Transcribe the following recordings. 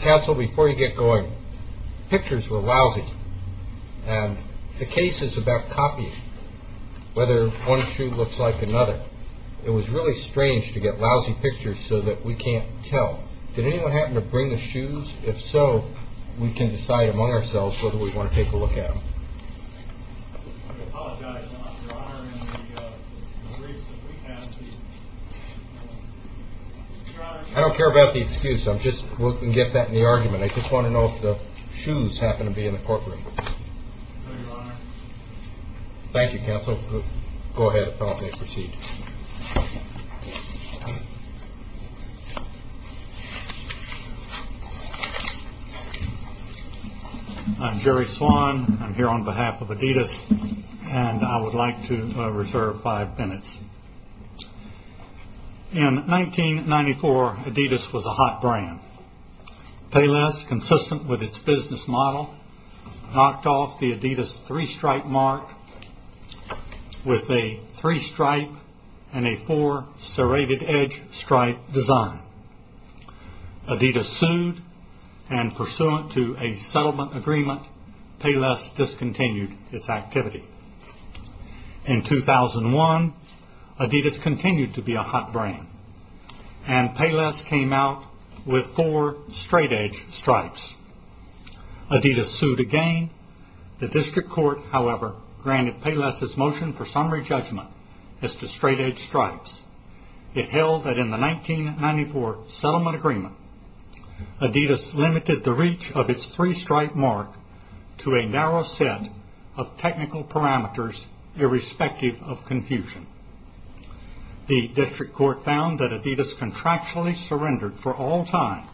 Council, before you get going, pictures were lousy. And the case is about copying, whether one shoe looks like another. It was really strange to get lousy pictures so that we can't tell. Did anyone happen to bring the shoes? If so, we can decide among ourselves whether we want to take a look at them. I don't care about the excuse. We can get that in the argument. I just want to know if the shoes happen to be in the courtroom. Thank you, counsel. Go ahead. I'm Jerry Swan. I'm here on behalf of Adidas and I would like to reserve five minutes. In 1994, Adidas was a hot brand. Payless, consistent with its business model, knocked off the Adidas three-stripe mark with a three-stripe and a four serrated edge stripe design. Adidas sued and pursuant to a settlement agreement, Payless discontinued its activity. In 2001, Adidas continued to be a hot brand and Payless came out with four straight-edge stripes. Adidas sued again. The district court, however, granted Payless' motion for summary judgment as to straight-edge stripes. It held that in the 1994 settlement agreement, Adidas limited the reach of its three-stripe mark to a narrow set of technical parameters irrespective of confusion. The district court found that Adidas contractually surrendered for all time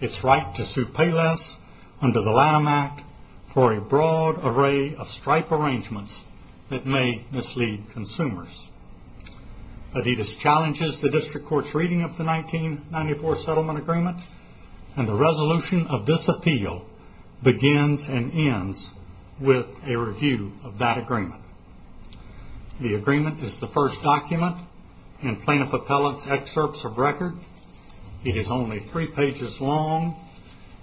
its right to sue Payless under the Lanham Act for a broad array of stripe arrangements that may mislead consumers. Adidas challenges the district court's reading of the 1994 settlement agreement and the resolution of this appeal begins and ends with a review of that agreement. The agreement is the first document in plaintiff appellate's excerpts of record. It is only three pages long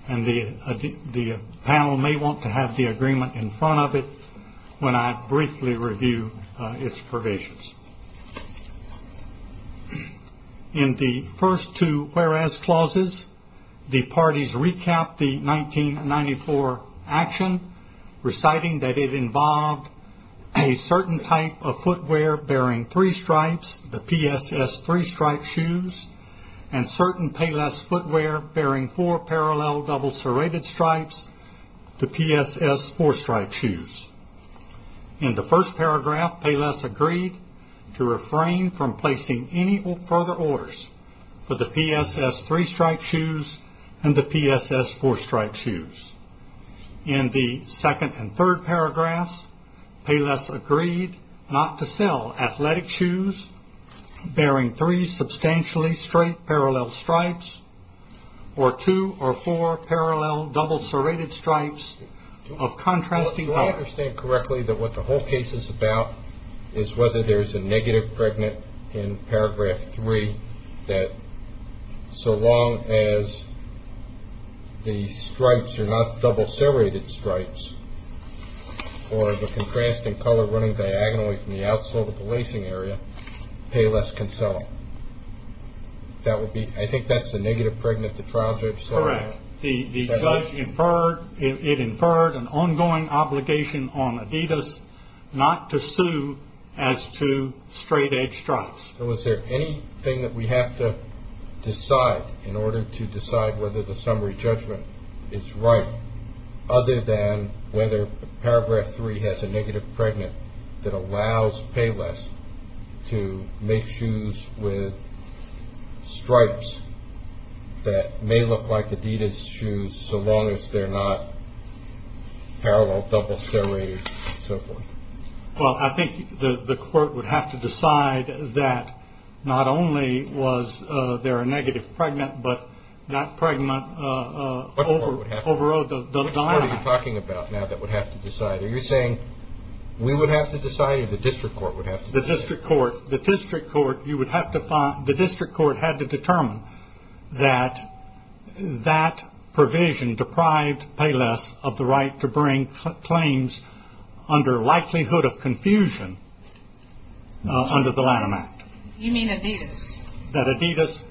and the panel may want to have the agreement in front of it when I briefly review its provisions. In the first two whereas clauses, the parties recap the 1994 action reciting that it involved a certain type of footwear bearing three stripes, the PSS three-stripe shoes, and certain Payless footwear bearing four parallel double serrated stripes, the PSS four-stripe shoes. In the first paragraph, Payless agreed to refrain from placing any further orders for the PSS three-stripe shoes and the PSS four-stripe shoes. In the second and third paragraphs, Payless agreed not to sell athletic shoes bearing three substantially straight parallel stripes or two or four parallel double serrated stripes of contrasting. Do I understand correctly that what the whole case is about is whether there's a negative pregnant in paragraph three that so long as the stripes are not double serrated stripes or the contrasting color running diagonally from the outsole to the lacing area, Payless can sell them? I think that's the negative pregnant the trial judge said. Correct. The judge inferred, it inferred an ongoing obligation on Adidas not to sue as to straight-edge stripes. So is there anything that we have to decide in order to decide whether the summary judgment is right other than whether paragraph three has a negative pregnant that allows Payless to make shoes with stripes that may look like Adidas shoes so long as they're not parallel double serrated and so forth? Well, I think the court would have to decide that not only was there a negative pregnant, but that pregnant overrode the dilemma. Which court are you talking about now that would have to decide? Are you saying we would have to decide or the district court would have to decide? The district court had to determine that that provision deprived Payless of the right to bring claims under likelihood of confusion under the Lanham Act. You mean Adidas? That Adidas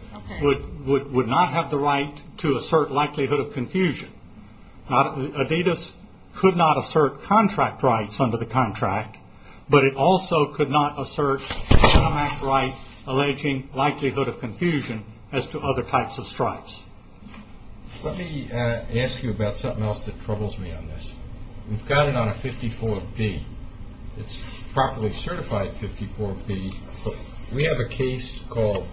would not have the right to assert likelihood of confusion. Adidas could not assert contract rights under the contract, but it also could not assert the Lanham Act right alleging likelihood of confusion as to other types of stripes. Let me ask you about something else that troubles me on this. We've got it on a 54B. It's properly certified 54B. We have a case called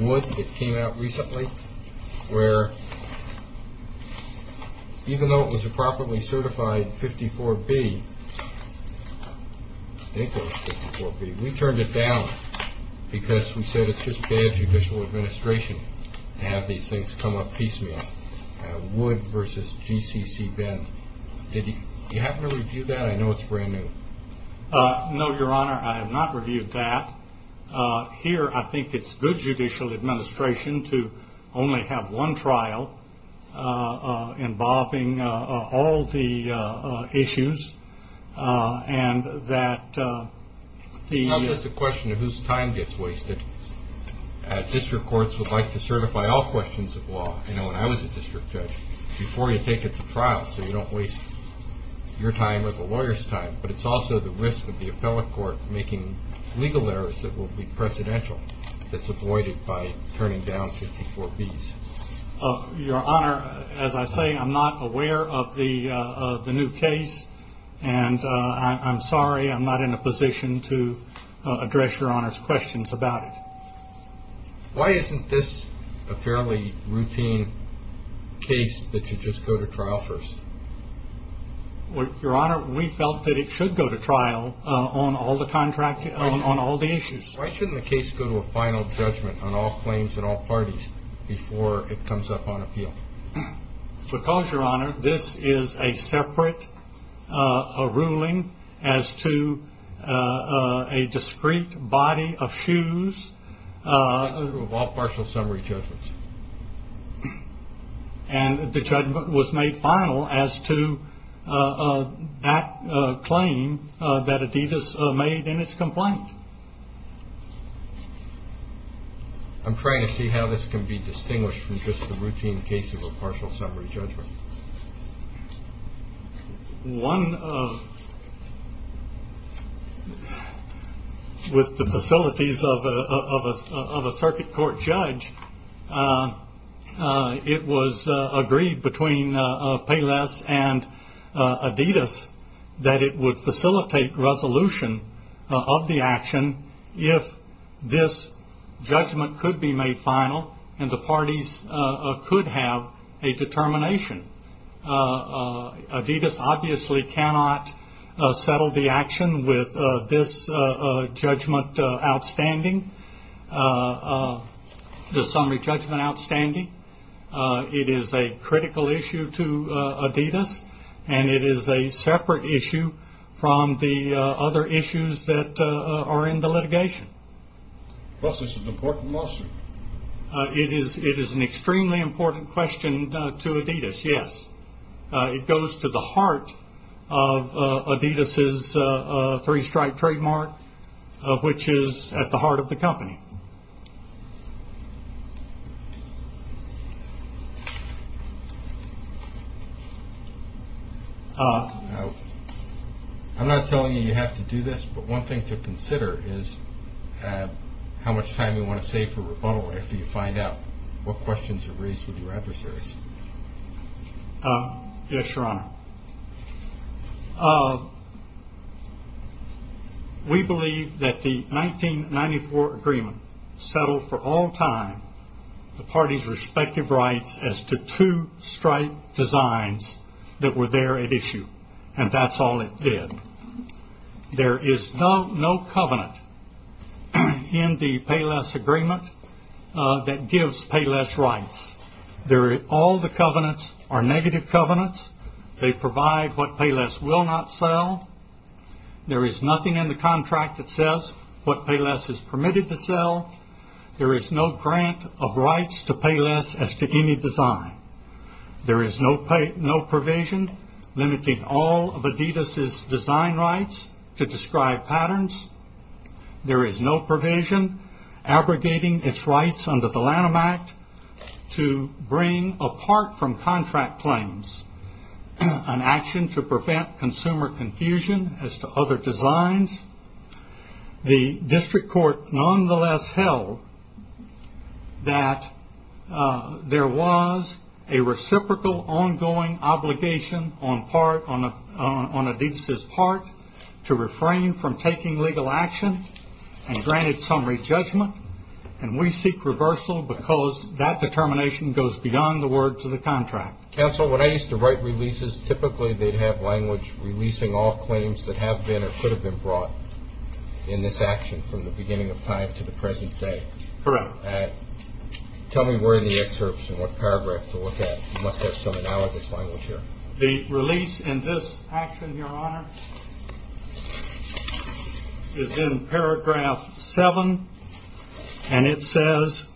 Wood that came out recently where even though it was a properly certified 54B, I think it was 54B, we turned it down because we said it's just bad judicial administration to have these things come up piecemeal. Wood versus GCC Ben. Did you have to review that? I know it's brand new. No, Your Honor. I have not reviewed that. Here, I think it's good judicial administration to only have one trial involving all the issues and that the... District courts would like to certify all questions of law, you know, when I was a district judge, before you take it to trial so you don't waste your time or the lawyer's time, but it's also the risk of the appellate court making legal errors that will be precedential that's avoided by turning down 54Bs. Your Honor, as I say, I'm not aware of the new case. And I'm sorry I'm not in a position to address Your Honor's questions about it. Why isn't this a fairly routine case that you just go to trial first? Your Honor, we felt that it should go to trial on all the issues. Why shouldn't the case go to a final judgment on all claims and all parties before it comes up on appeal? Because, Your Honor, this is a separate ruling as to a discrete body of shoes. Of all partial summary judgments. And the judgment was made final as to that claim that Adidas made in its complaint. I'm trying to see how this can be distinguished from just a routine case of a partial summary judgment. One of the facilities of a circuit court judge, it was agreed between Payless and Adidas that it would facilitate resolution of the action if this judgment could be made final and the parties could have a determination. Adidas obviously cannot settle the action with this judgment outstanding, the summary judgment outstanding. It is a critical issue to Adidas. And it is a separate issue from the other issues that are in the litigation. Was this an important lawsuit? It is an extremely important question to Adidas. Yes. It goes to the heart of Adidas' three-stripe trademark, which is at the heart of the company. I'm not telling you you have to do this. But one thing to consider is how much time you want to save for rebuttal after you find out what questions are raised with your adversaries. Yes, Your Honor. We believe that the 1994 agreement settled for all time the parties' respective rights as to two-stripe designs that were there at issue. And that's all it did. There is no covenant in the Payless agreement that gives Payless rights. All the covenants are negative covenants. They provide what Payless will not sell. There is nothing in the contract that says what Payless is permitted to sell. There is no grant of rights to Payless as to any design. There is no provision limiting all of Adidas' design rights to describe patterns. There is no provision abrogating its rights under the Lanham Act to bring apart from contract claims an action to prevent consumer confusion as to other designs. The district court nonetheless held that there was a reciprocal ongoing obligation on Adidas' part to refrain from taking legal action and granted summary judgment. And we seek reversal because that determination goes beyond the words of the contract. Counsel, when I used to write releases, typically they'd have language releasing all claims that have been or could have been brought in this action from the beginning of time to the present day. Correct. Tell me where in the excerpts and what paragraph to look at. You must have some analogous language here. The release in this action, Your Honor, is in paragraph 7. And it says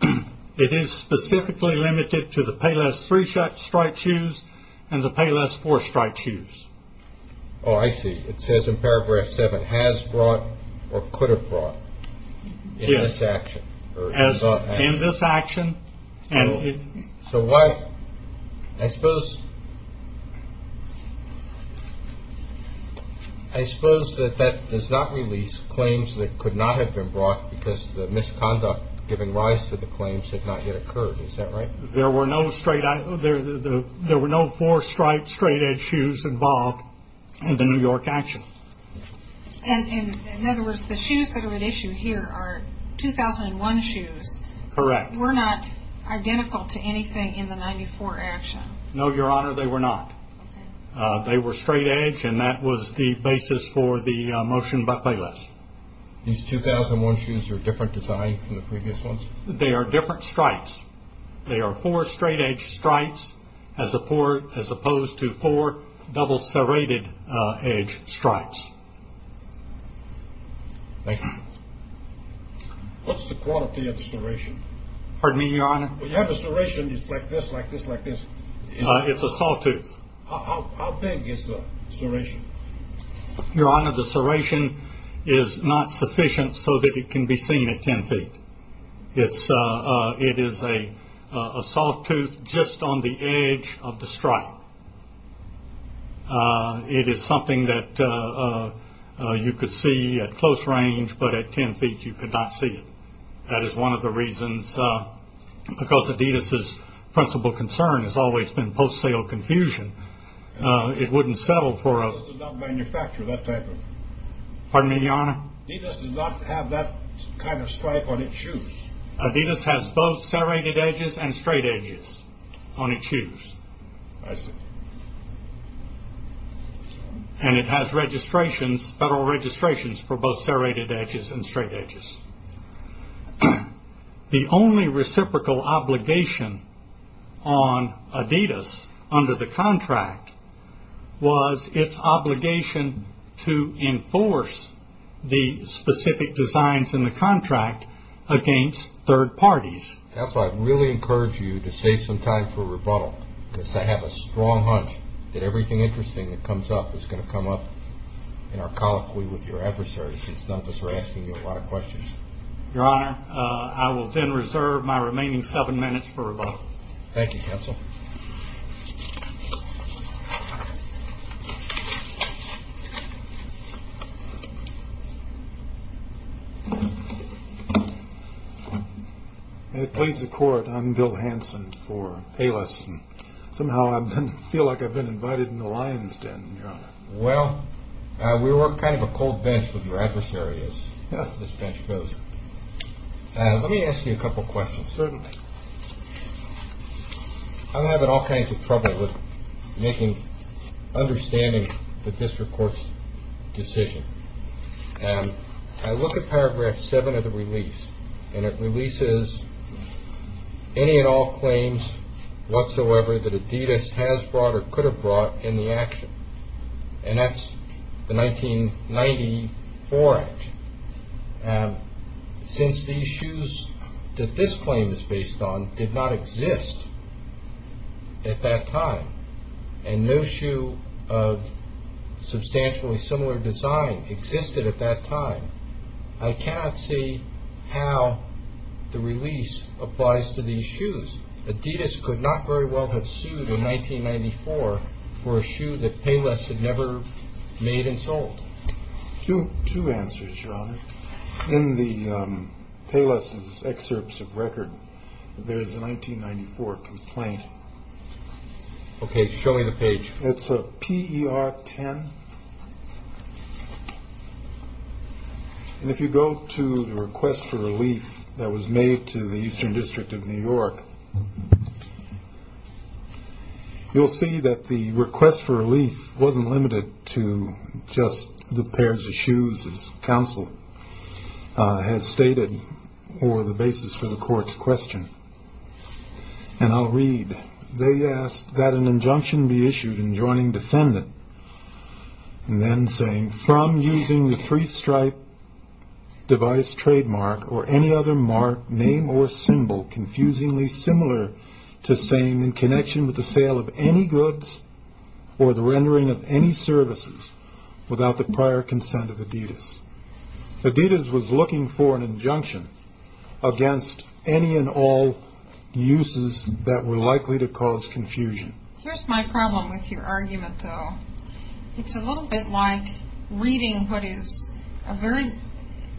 it is specifically limited to the Payless 3 strike shoes and the Payless 4 strike shoes. Oh, I see. It says in paragraph 7 has brought or could have brought in this action. Yes, in this action. So what I suppose. I suppose that that does not release claims that could not have been brought because the misconduct given rise to the claims had not yet occurred. Is that right? There were no straight. There were no four strike straight edge shoes involved in the New York action. And in other words, the shoes that are at issue here are 2001 shoes. Correct. Were not identical to anything in the 94 action. No, Your Honor, they were not. They were straight edge, and that was the basis for the motion by Payless. These 2001 shoes are a different design from the previous ones? They are different strikes. They are four straight edge strikes as opposed to four double serrated edge strikes. Thank you. What's the quality of the serration? Pardon me, Your Honor? You have a serration like this, like this, like this. It's a sawtooth. How big is the serration? Your Honor, the serration is not sufficient so that it can be seen at 10 feet. It is something that you could see at close range, but at 10 feet you could not see it. That is one of the reasons because Adidas' principal concern has always been post-sale confusion. It wouldn't settle for a- Adidas does not manufacture that type of- Pardon me, Your Honor? Adidas does not have that kind of strike on its shoes. I see. And it has registrations, federal registrations, for both serrated edges and straight edges. The only reciprocal obligation on Adidas under the contract was its obligation to enforce the specific designs in the contract against third parties. Counsel, I'd really encourage you to save some time for rebuttal, because I have a strong hunch that everything interesting that comes up is going to come up in our colloquy with your adversary, since none of us are asking you a lot of questions. Your Honor, I will then reserve my remaining seven minutes for rebuttal. Thank you, Counsel. May it please the Court, I'm Bill Hanson for ALIS. Somehow I feel like I've been invited into the lion's den, Your Honor. Well, we were kind of a cold bench with your adversary, as this bench goes. Let me ask you a couple of questions. Certainly. I'm having all kinds of trouble with understanding the district court's decision. I look at paragraph 7 of the release, and it releases any and all claims whatsoever that Adidas has brought or could have brought in the action. And that's the 1994 action. Since these shoes that this claim is based on did not exist at that time, and no shoe of substantially similar design existed at that time, I cannot see how the release applies to these shoes. Adidas could not very well have sued in 1994 for a shoe that Payless had never made and sold. Two answers, Your Honor. In the Payless's excerpts of record, there is a 1994 complaint. Okay. Show me the page. It's a P.E.R. 10. And if you go to the request for relief that was made to the Eastern District of New York, you'll see that the request for relief wasn't limited to just the pairs of shoes, as counsel has stated, or the basis for the court's question. And I'll read. They asked that an injunction be issued in joining defendant, and then saying, from using the three-stripe device trademark or any other mark, name, or symbol confusingly similar to saying, in connection with the sale of any goods or the rendering of any services without the prior consent of Adidas. Adidas was looking for an injunction against any and all uses that were likely to cause confusion. Here's my problem with your argument, though. It's a little bit like reading what is a very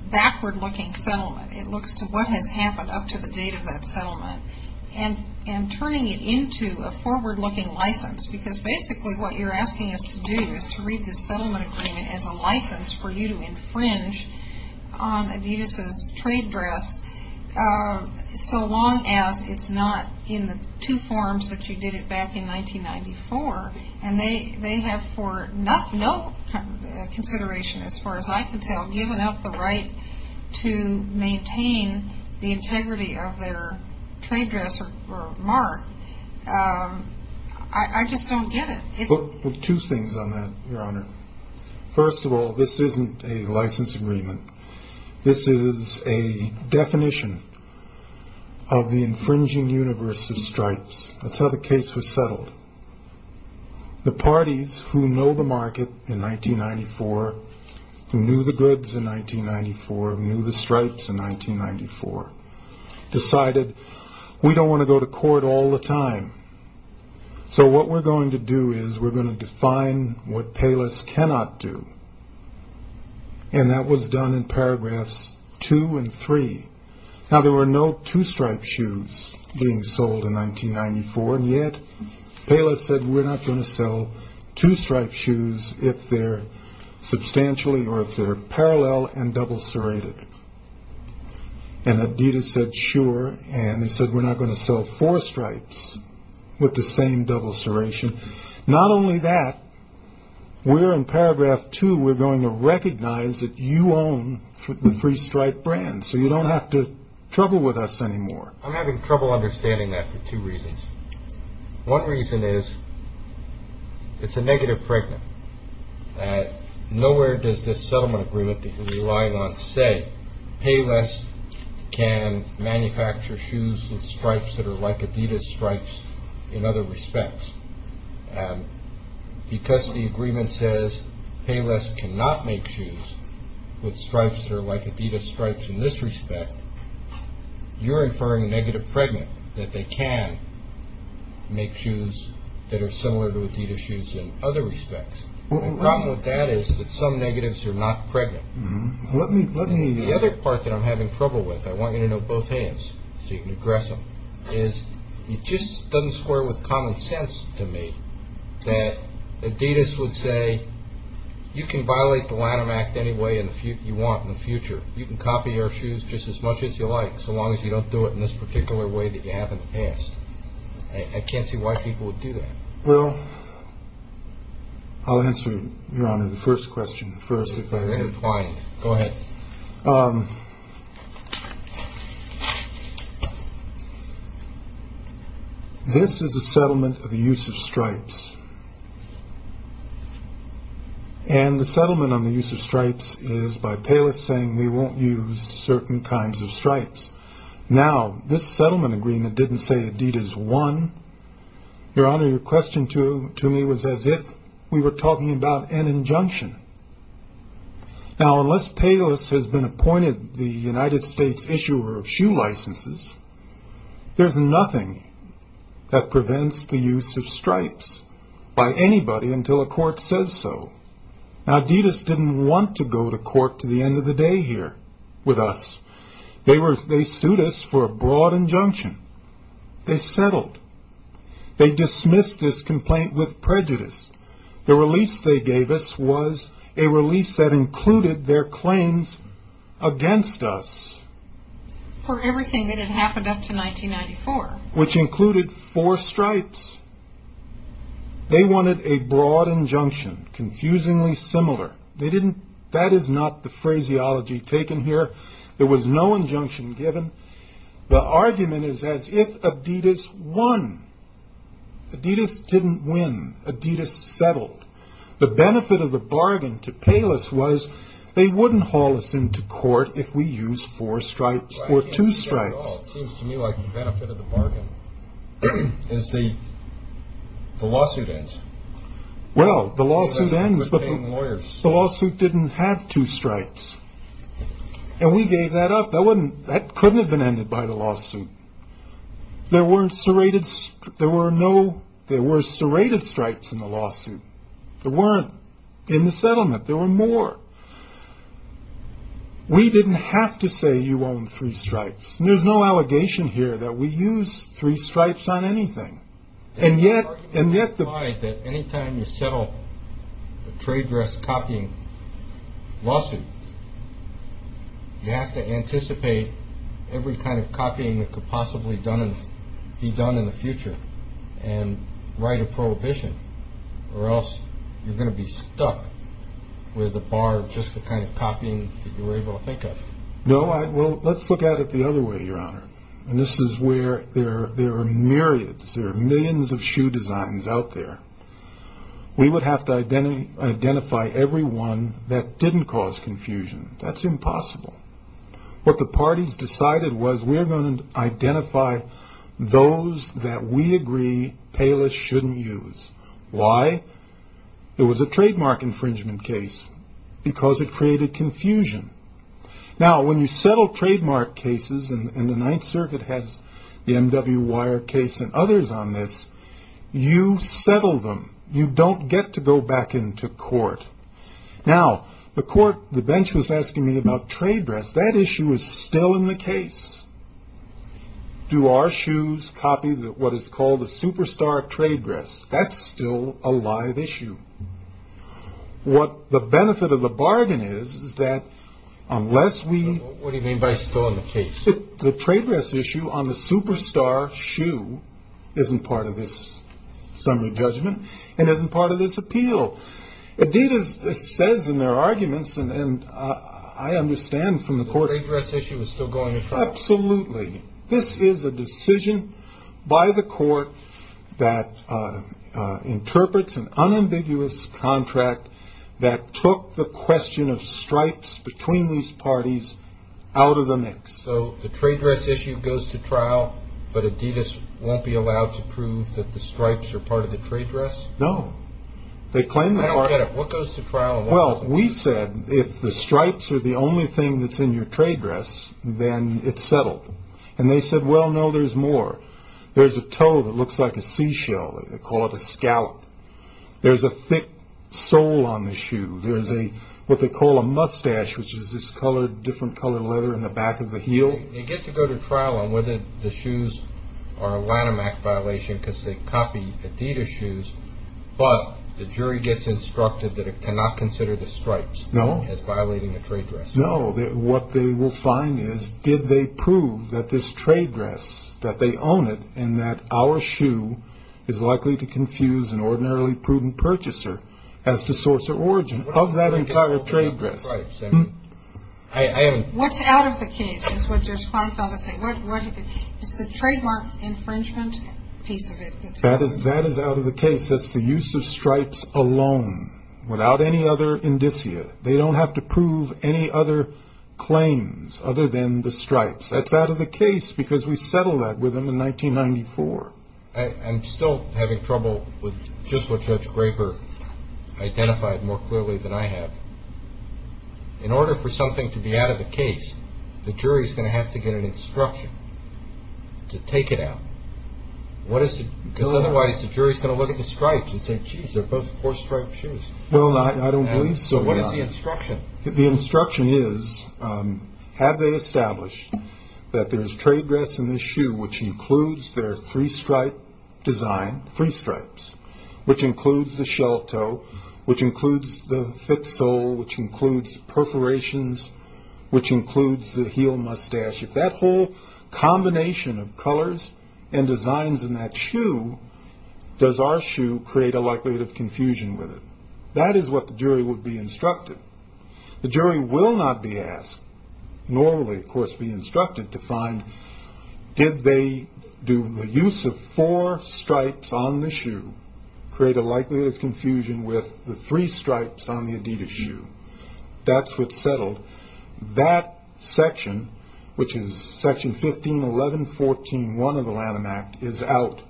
backward-looking settlement. It looks to what has happened up to the date of that settlement and turning it into a forward-looking license, because basically what you're asking us to do is to read this settlement agreement as a license for you to infringe on Adidas' trade dress, so long as it's not in the two forms that you did it back in 1994. And they have for no consideration, as far as I can tell, given up the right to maintain the integrity of their trade dress or mark. I just don't get it. Well, two things on that, Your Honor. First of all, this isn't a license agreement. This is a definition of the infringing universe of stripes. That's how the case was settled. The parties who know the market in 1994, who knew the goods in 1994, who knew the stripes in 1994, decided, we don't want to go to court all the time. So what we're going to do is we're going to define what Payless cannot do. And that was done in paragraphs two and three. Now, there were no two-stripe shoes being sold in 1994, and yet Payless said we're not going to sell two-stripe shoes if they're substantially or if they're parallel and double serrated. And Adidas said sure, and they said we're not going to sell four stripes with the same double serration. Not only that, we're in paragraph two, we're going to recognize that you own the three-stripe brand, so you don't have to trouble with us anymore. I'm having trouble understanding that for two reasons. One reason is it's a negative fragment. Nowhere does this settlement agreement that you're relying on say, Payless can manufacture shoes with stripes that are like Adidas stripes in other respects. Because the agreement says Payless cannot make shoes with stripes that are like Adidas stripes in this respect, you're inferring a negative fragment that they can make shoes that are similar to Adidas shoes in other respects. The problem with that is that some negatives are not fragment. The other part that I'm having trouble with, I want you to know both hands so you can address them, is it just doesn't square with common sense to me that Adidas would say you can violate the Lanham Act any way you want in the future. You can copy our shoes just as much as you like, so long as you don't do it in this particular way that you have in the past. I can't see why people would do that. Well, I'll answer, Your Honor, the first question first. Go ahead. And the settlement on the use of stripes is by Payless saying they won't use certain kinds of stripes. Now, this settlement agreement didn't say Adidas won. Your Honor, your question to me was as if we were talking about an injunction. Now, unless Payless has been appointed the United States issuer of shoe licenses, there's nothing that prevents the use of stripes by anybody until a court says so. Now, Adidas didn't want to go to court to the end of the day here with us. They sued us for a broad injunction. They settled. They dismissed this complaint with prejudice. The release they gave us was a release that included their claims against us. For everything that had happened up to 1994. Which included four stripes. They wanted a broad injunction, confusingly similar. That is not the phraseology taken here. There was no injunction given. The argument is as if Adidas won. Adidas didn't win. Adidas settled. The benefit of the bargain to Payless was they wouldn't haul us into court if we used four stripes or two stripes. It seems to me like the benefit of the bargain is the lawsuit ends. Well, the lawsuit ends, but the lawsuit didn't have two stripes. And we gave that up. There were serrated stripes in the lawsuit. There weren't in the settlement. There were more. We didn't have to say you own three stripes. There's no allegation here that we used three stripes on anything. Any time you settle a trade dress copying lawsuit, you have to anticipate every kind of copying that could possibly be done in the future. And write a prohibition. Or else you're going to be stuck with a bar of just the kind of copying that you were able to think of. No, well, let's look at it the other way, Your Honor. And this is where there are myriads, there are millions of shoe designs out there. We would have to identify every one that didn't cause confusion. That's impossible. What the parties decided was we're going to identify those that we agree Payless shouldn't use. Why? It was a trademark infringement case because it created confusion. Now, when you settle trademark cases, and the Ninth Circuit has the M.W. Wire case and others on this, you settle them. You don't get to go back into court. Now, the court, the bench was asking me about trade dress. That issue is still in the case. Do our shoes copy what is called a superstar trade dress? That's still a live issue. What the benefit of the bargain is, is that unless we. What do you mean by still in the case? The trade dress issue on the superstar shoe isn't part of this summary judgment and isn't part of this appeal. It did, as it says in their arguments, and I understand from the court. The trade dress issue is still going to trial. Absolutely. This is a decision by the court that interprets an unambiguous contract that took the question of stripes between these parties out of the mix. So the trade dress issue goes to trial, but Adidas won't be allowed to prove that the stripes are part of the trade dress? No. They claim. I don't get it. What goes to trial? Well, we said if the stripes are the only thing that's in your trade dress, then it's settled. And they said, well, no, there's more. There's a toe that looks like a seashell. They call it a scout. There's a thick sole on the shoe. There's a what they call a mustache, which is this colored, different colored leather in the back of the heel. You get to go to trial on whether the shoes are a Lanham Act violation because they copy Adidas shoes. But the jury gets instructed that it cannot consider the stripes. No. As violating a trade dress. No. What they will find is, did they prove that this trade dress, that they own it, and that our shoe is likely to confuse an ordinarily prudent purchaser as to source or origin of that entire trade dress? I haven't. What's out of the case is what Judge Farnfeld is saying. What is the trademark infringement piece of it? That is out of the case. That's the use of stripes alone, without any other indicia. They don't have to prove any other claims other than the stripes. That's out of the case because we settled that with them in 1994. I'm still having trouble with just what Judge Graper identified more clearly than I have. In order for something to be out of the case, the jury is going to have to get an instruction to take it out. Because otherwise the jury is going to look at the stripes and say, geez, they're both four-stripe shoes. I don't believe so. What is the instruction? The instruction is, have they established that there is trade dress in this shoe, which includes their three-stripe design, three stripes, which includes the shell toe, which includes the thick sole, which includes perforations, which includes the heel mustache. If that whole combination of colors and designs in that shoe, does our shoe create a likelihood of confusion with it? That is what the jury would be instructed. The jury will not be asked, nor will they, of course, be instructed to find, did they do the use of four stripes on the shoe create a likelihood of confusion with the three stripes on the Adidas shoe? That's what's settled. That section, which is Section 1511.14.1 of the Lanham Act, is out.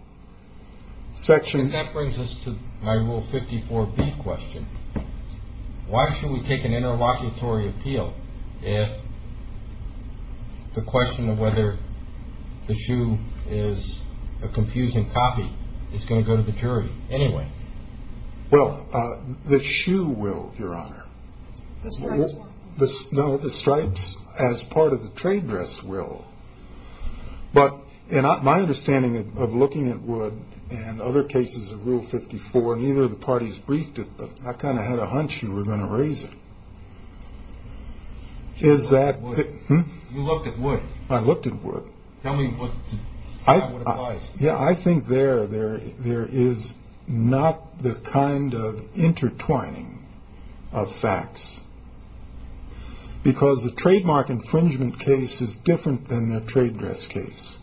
That brings us to my Rule 54B question. Why should we take an interlocutory appeal if the question of whether the shoe is a confusing copy is going to go to the jury anyway? The stripes as part of the trade dress will. But in my understanding of looking at wood and other cases of Rule 54, neither of the parties briefed it, but I kind of had a hunch you were going to raise it. You looked at wood. I looked at wood. Tell me what applies. Yeah, I think there is not the kind of intertwining of facts. Because the trademark infringement case is different than the trade dress case.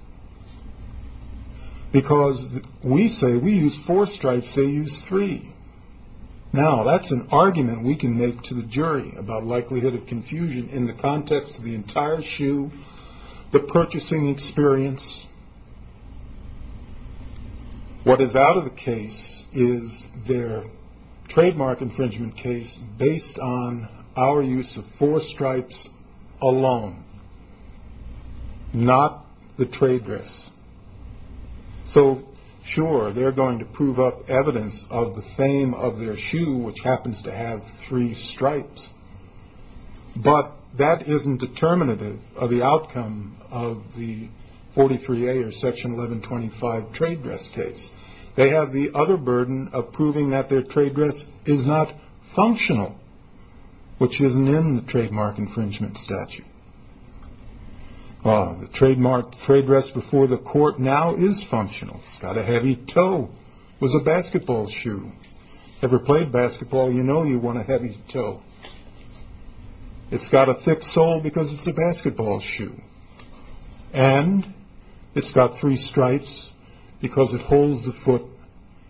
Because we say we use four stripes, they use three. Now, that's an argument we can make to the jury about likelihood of confusion in the context of the entire shoe, the purchasing experience. What is out of the case is their trademark infringement case based on our use of four stripes alone, not the trade dress. So, sure, they're going to prove up evidence of the fame of their shoe, which happens to have three stripes. But that isn't determinative of the outcome of the 43A or Section 1125 trade dress case. They have the other burden of proving that their trade dress is not functional, which isn't in the trademark infringement statute. The trademark trade dress before the court now is functional. It's got a heavy toe. It was a basketball shoe. If you've ever played basketball, you know you want a heavy toe. It's got a thick sole because it's a basketball shoe. And it's got three stripes because it holds the foot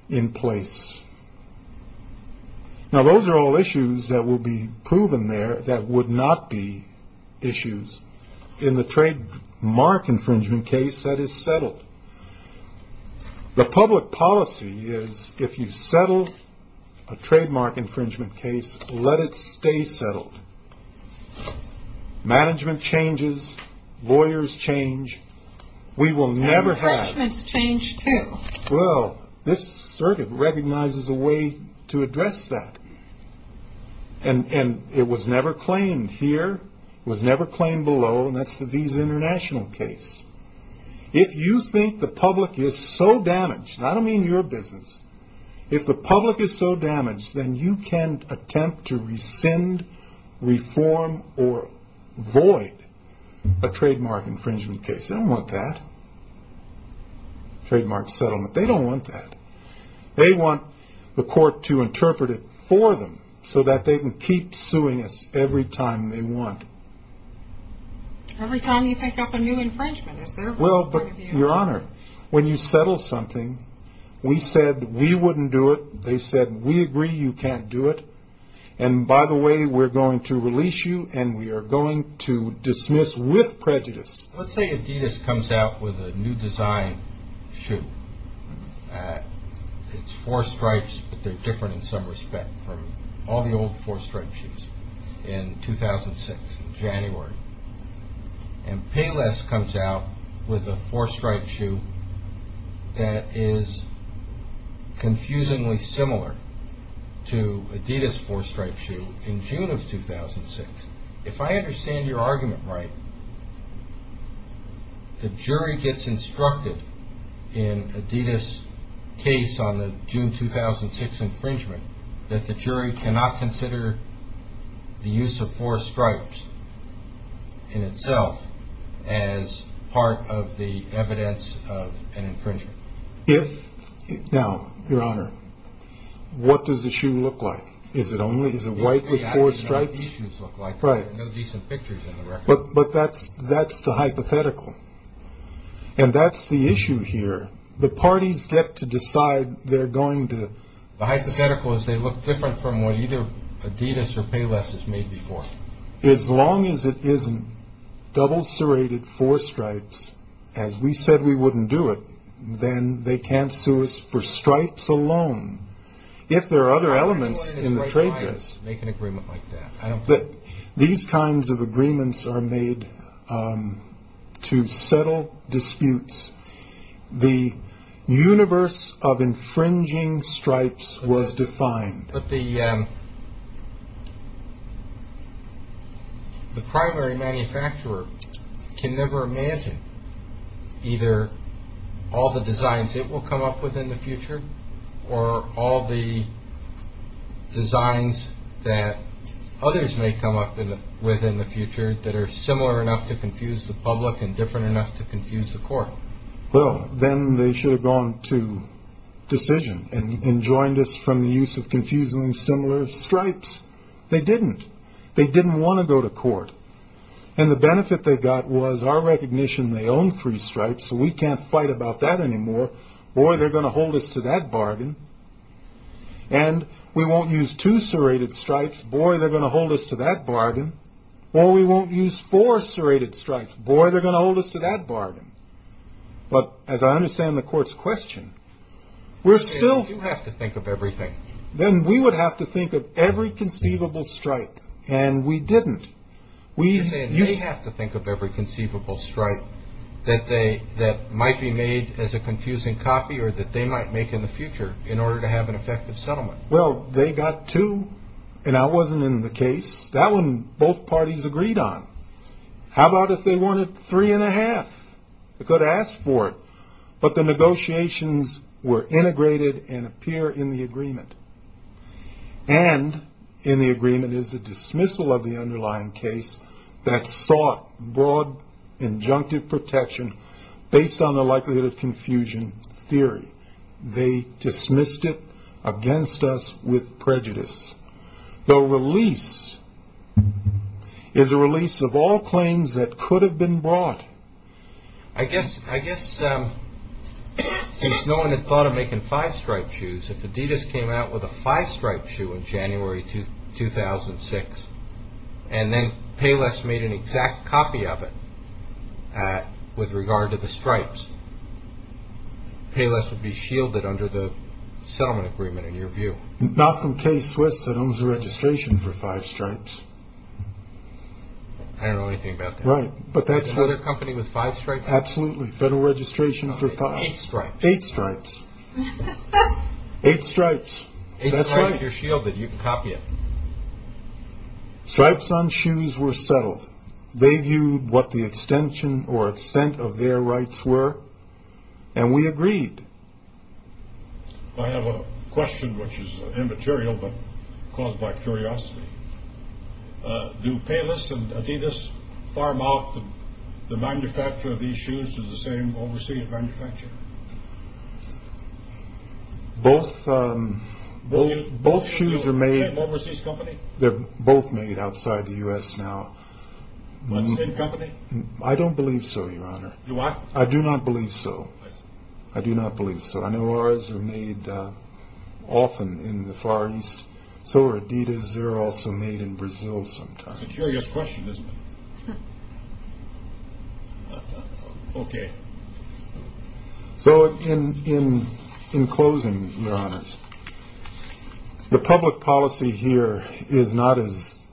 in place. Now, those are all issues that will be proven there that would not be issues in the trademark infringement case that is settled. The public policy is if you settle a trademark infringement case, let it stay settled. Management changes. Lawyers change. We will never have. Infringements change, too. Well, this circuit recognizes a way to address that. And it was never claimed here. It was never claimed below. And that's the Visa International case. If you think the public is so damaged, and I don't mean your business. If the public is so damaged, then you can attempt to rescind, reform, or void a trademark infringement case. They don't want that. Trademark settlement. They don't want that. They want the court to interpret it for them so that they can keep suing us every time they want. Every time you think up a new infringement, is there a point of view? Well, but, Your Honor, when you settle something, we said we wouldn't do it. They said we agree you can't do it. And, by the way, we're going to release you, and we are going to dismiss with prejudice. Let's say Adidas comes out with a new design shoe. It's four stripes, but they're different in some respect from all the old four-stripe shoes in 2006, in January. And Payless comes out with a four-stripe shoe that is confusingly similar to Adidas' four-stripe shoe in June of 2006. If I understand your argument right, the jury gets instructed in Adidas' case on the June 2006 infringement that the jury cannot consider the use of four stripes in itself as part of the evidence of an infringement. Now, Your Honor, what does the shoe look like? Is it white with four stripes? That's what the shoes look like. Right. There are no decent pictures in the record. But that's the hypothetical. And that's the issue here. The parties get to decide they're going to… The hypothetical is they look different from what either Adidas or Payless has made before. As long as it isn't double-serrated four stripes, as we said we wouldn't do it, then they can't sue us for stripes alone. If there are other elements in the trademark… These kinds of agreements are made to settle disputes. The universe of infringing stripes was defined. But the primary manufacturer can never imagine either all the designs it will come up with in the future or all the designs that others may come up with in the future that are similar enough to confuse the public and different enough to confuse the court. Well, then they should have gone to decision and joined us from the use of confusingly similar stripes. They didn't. They didn't want to go to court. And the benefit they got was our recognition they own three stripes, so we can't fight about that anymore, or, boy, they're going to hold us to that bargain. And we won't use two serrated stripes. Boy, they're going to hold us to that bargain. Or we won't use four serrated stripes. Boy, they're going to hold us to that bargain. But as I understand the court's question, we're still… You have to think of everything. Then we would have to think of every conceivable stripe, and we didn't. You're saying they have to think of every conceivable stripe that might be made as a confusing copy or that they might make in the future in order to have an effective settlement. Well, they got two, and that wasn't in the case. That one both parties agreed on. How about if they wanted three and a half? They could have asked for it. But the negotiations were integrated and appear in the agreement. And in the agreement is the dismissal of the underlying case that sought broad injunctive protection based on the likelihood of confusion theory. They dismissed it against us with prejudice. The release is a release of all claims that could have been brought. I guess since no one had thought of making five striped shoes, if Adidas came out with a five-stripe shoe in January 2006 and then Payless made an exact copy of it with regard to the stripes, Payless would be shielded under the settlement agreement in your view. Not from K-Swiss that owns the registration for five stripes. I don't know anything about that. Right, but that's… Another company with five stripes? Absolutely. Federal registration for five. Eight stripes. Eight stripes. Eight stripes. That's right. If you're shielded, you can copy it. Stripes on shoes were settled. They viewed what the extension or extent of their rights were. And we agreed. I have a question which is immaterial but caused by curiosity. Do Payless and Adidas farm out the manufacture of these shoes to the same overseas manufacturer? Both shoes are made… The same overseas company? They're both made outside the U.S. now. The same company? I don't believe so, Your Honor. You what? I do not believe so. I do not believe so. I know ours are made often in the Far East. So are Adidas. They're also made in Brazil sometimes. It's a curious question, isn't it? Okay. So in closing, Your Honors, the public policy here is not, as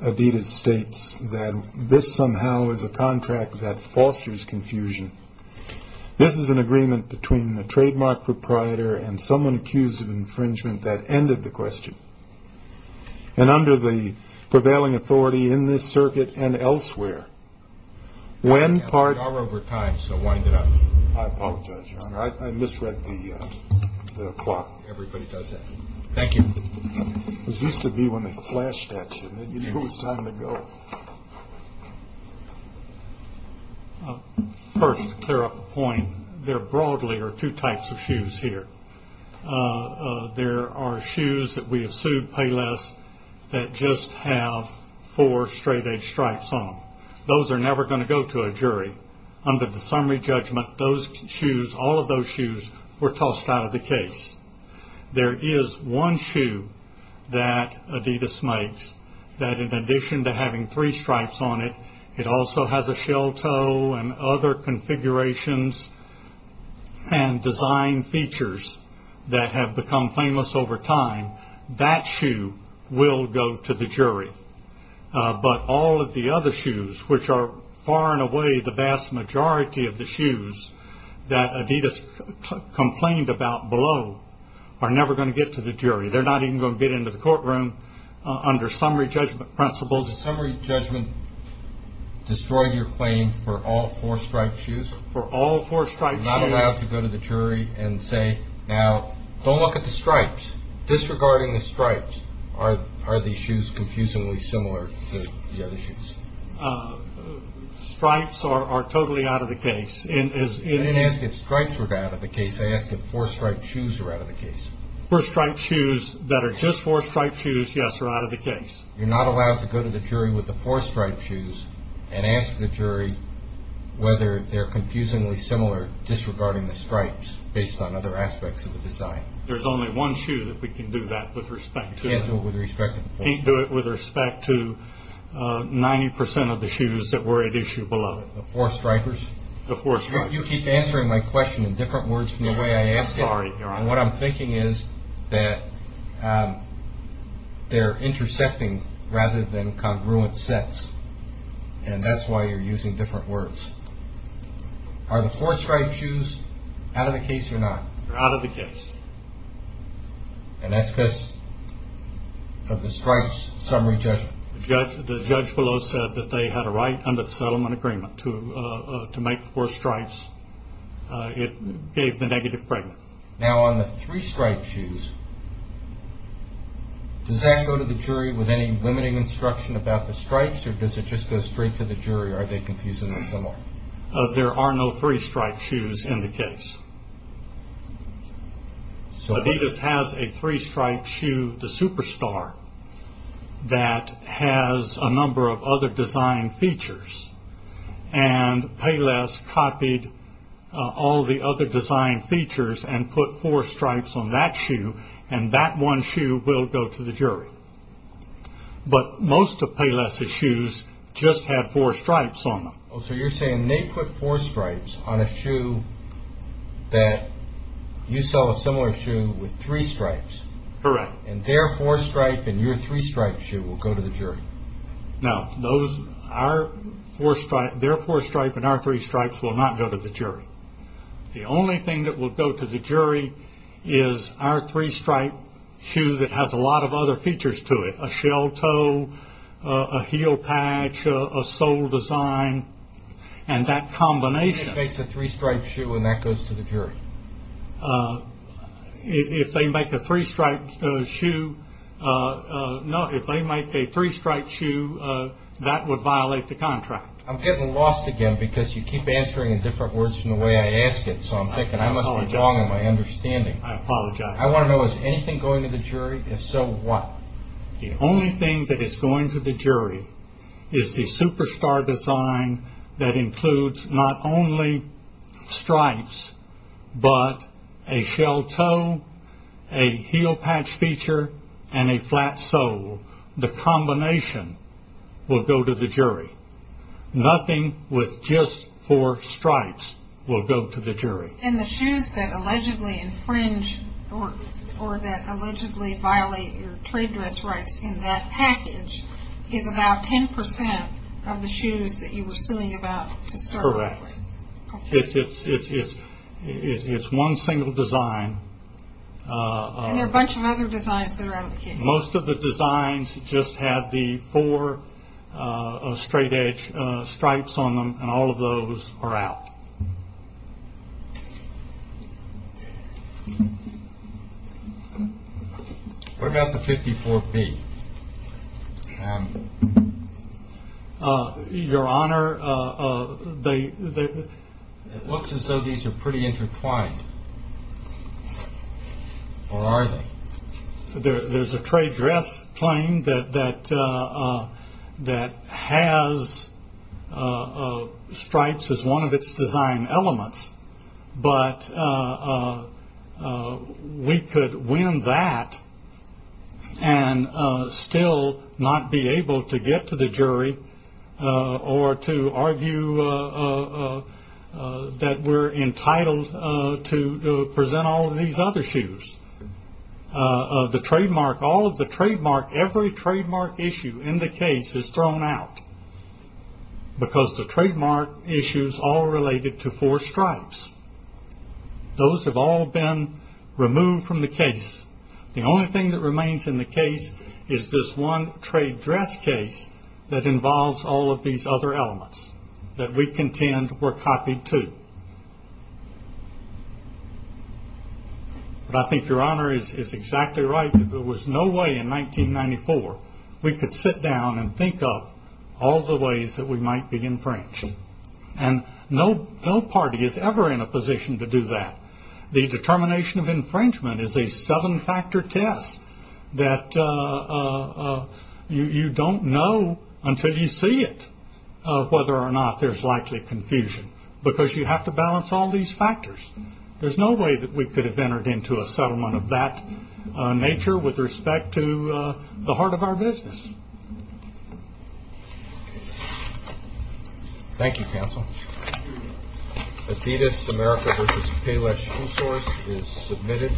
Adidas states, that this somehow is a contract that fosters confusion. This is an agreement between the trademark proprietor and someone accused of infringement that ended the question. And under the prevailing authority in this circuit and elsewhere, when part… We are over time, so wind it up. I apologize, Your Honor. I misread the clock. Everybody does that. Thank you. This used to be when they flashed that, shouldn't it? You knew it was time to go. First, to clear up a point, there broadly are two types of shoes here. There are shoes that we have sued Payless that just have four straight-edge stripes on them. Those are never going to go to a jury. Under the summary judgment, those shoes, all of those shoes, were tossed out of the case. There is one shoe that Adidas makes that, in addition to having three stripes on it, it also has a shell toe and other configurations and design features that have become famous over time. That shoe will go to the jury. But all of the other shoes, which are far and away the vast majority of the shoes that Adidas complained about below, are never going to get to the jury. They're not even going to get into the courtroom under summary judgment principles. The summary judgment destroyed your claim for all four-stripe shoes? For all four-stripe shoes. You're not allowed to go to the jury and say, Now, don't look at the stripes. Disregarding the stripes, are these shoes confusingly similar to the other shoes? Stripes are totally out of the case. I didn't ask if stripes were out of the case. I asked if four-stripe shoes were out of the case. Four-stripe shoes that are just four-stripe shoes, yes, are out of the case. You're not allowed to go to the jury with the four-stripe shoes and ask the jury whether they're confusingly similar, disregarding the stripes based on other aspects of the design. There's only one shoe that we can do that with respect to. You can't do it with respect to the four-stripe shoes. You can't do it with respect to 90% of the shoes that were at issue below it. The four-stripers? The four-stripers. You keep answering my question in different words from the way I asked it. I'm sorry, Your Honor. What I'm thinking is that they're intersecting rather than congruent sets, and that's why you're using different words. Are the four-stripe shoes out of the case or not? They're out of the case. And that's because of the stripes summary judgment? The judge below said that they had a right under the settlement agreement to make four stripes. It gave the negative framework. Now, on the three-stripe shoes, does that go to the jury with any limiting instruction about the stripes, or does it just go straight to the jury? Are they confusingly similar? There are no three-stripe shoes in the case. Adidas has a three-stripe shoe, the Superstar, that has a number of other design features, and Payless copied all the other design features and put four stripes on that shoe, and that one shoe will go to the jury. But most of Payless' shoes just have four stripes on them. So you're saying they put four stripes on a shoe that you sell a similar shoe with three stripes. Correct. And their four-stripe and your three-stripe shoe will go to the jury. No. Their four-stripe and our three-stripes will not go to the jury. The only thing that will go to the jury is our three-stripe shoe that has a lot of other features to it, a shell toe, a heel patch, a sole design, and that combination. It makes a three-stripe shoe, and that goes to the jury. If they make a three-stripe shoe, that would violate the contract. I'm getting lost again because you keep answering in different words from the way I ask it, so I'm thinking I must be wrong in my understanding. I apologize. I want to know, is anything going to the jury? If so, what? The only thing that is going to the jury is the superstar design that includes not only stripes, but a shell toe, a heel patch feature, and a flat sole. The combination will go to the jury. Nothing with just four stripes will go to the jury. And the shoes that allegedly infringe or that allegedly violate your trade dress rights in that package is about 10% of the shoes that you were suing about to start with. Correct. Okay. It's one single design. And there are a bunch of other designs that are out in the community. Most of the designs just have the four straight-edge stripes on them, and all of those are out. What about the 54B? Your Honor, it looks as though these are pretty intertwined. Or are they? There's a trade dress claim that has stripes as one of its design elements, but we could win that and still not be able to get to the jury or to argue that we're entitled to present all of these other shoes. The trademark, all of the trademark, every trademark issue in the case is thrown out because the trademark issues all related to four stripes. Those have all been removed from the case. The only thing that remains in the case is this one trade dress case that involves all of these other elements that we contend were copied, too. But I think Your Honor is exactly right. There was no way in 1994 we could sit down and think of all the ways that we might be infringed. And no party is ever in a position to do that. The determination of infringement is a seven-factor test that you don't know until you see it whether or not there's likely confusion because you have to balance all these factors. There's no way that we could have entered into a settlement of that nature with respect to the heart of our business. Thank you, counsel. Adidas America vs. Payless shoe source is submitted.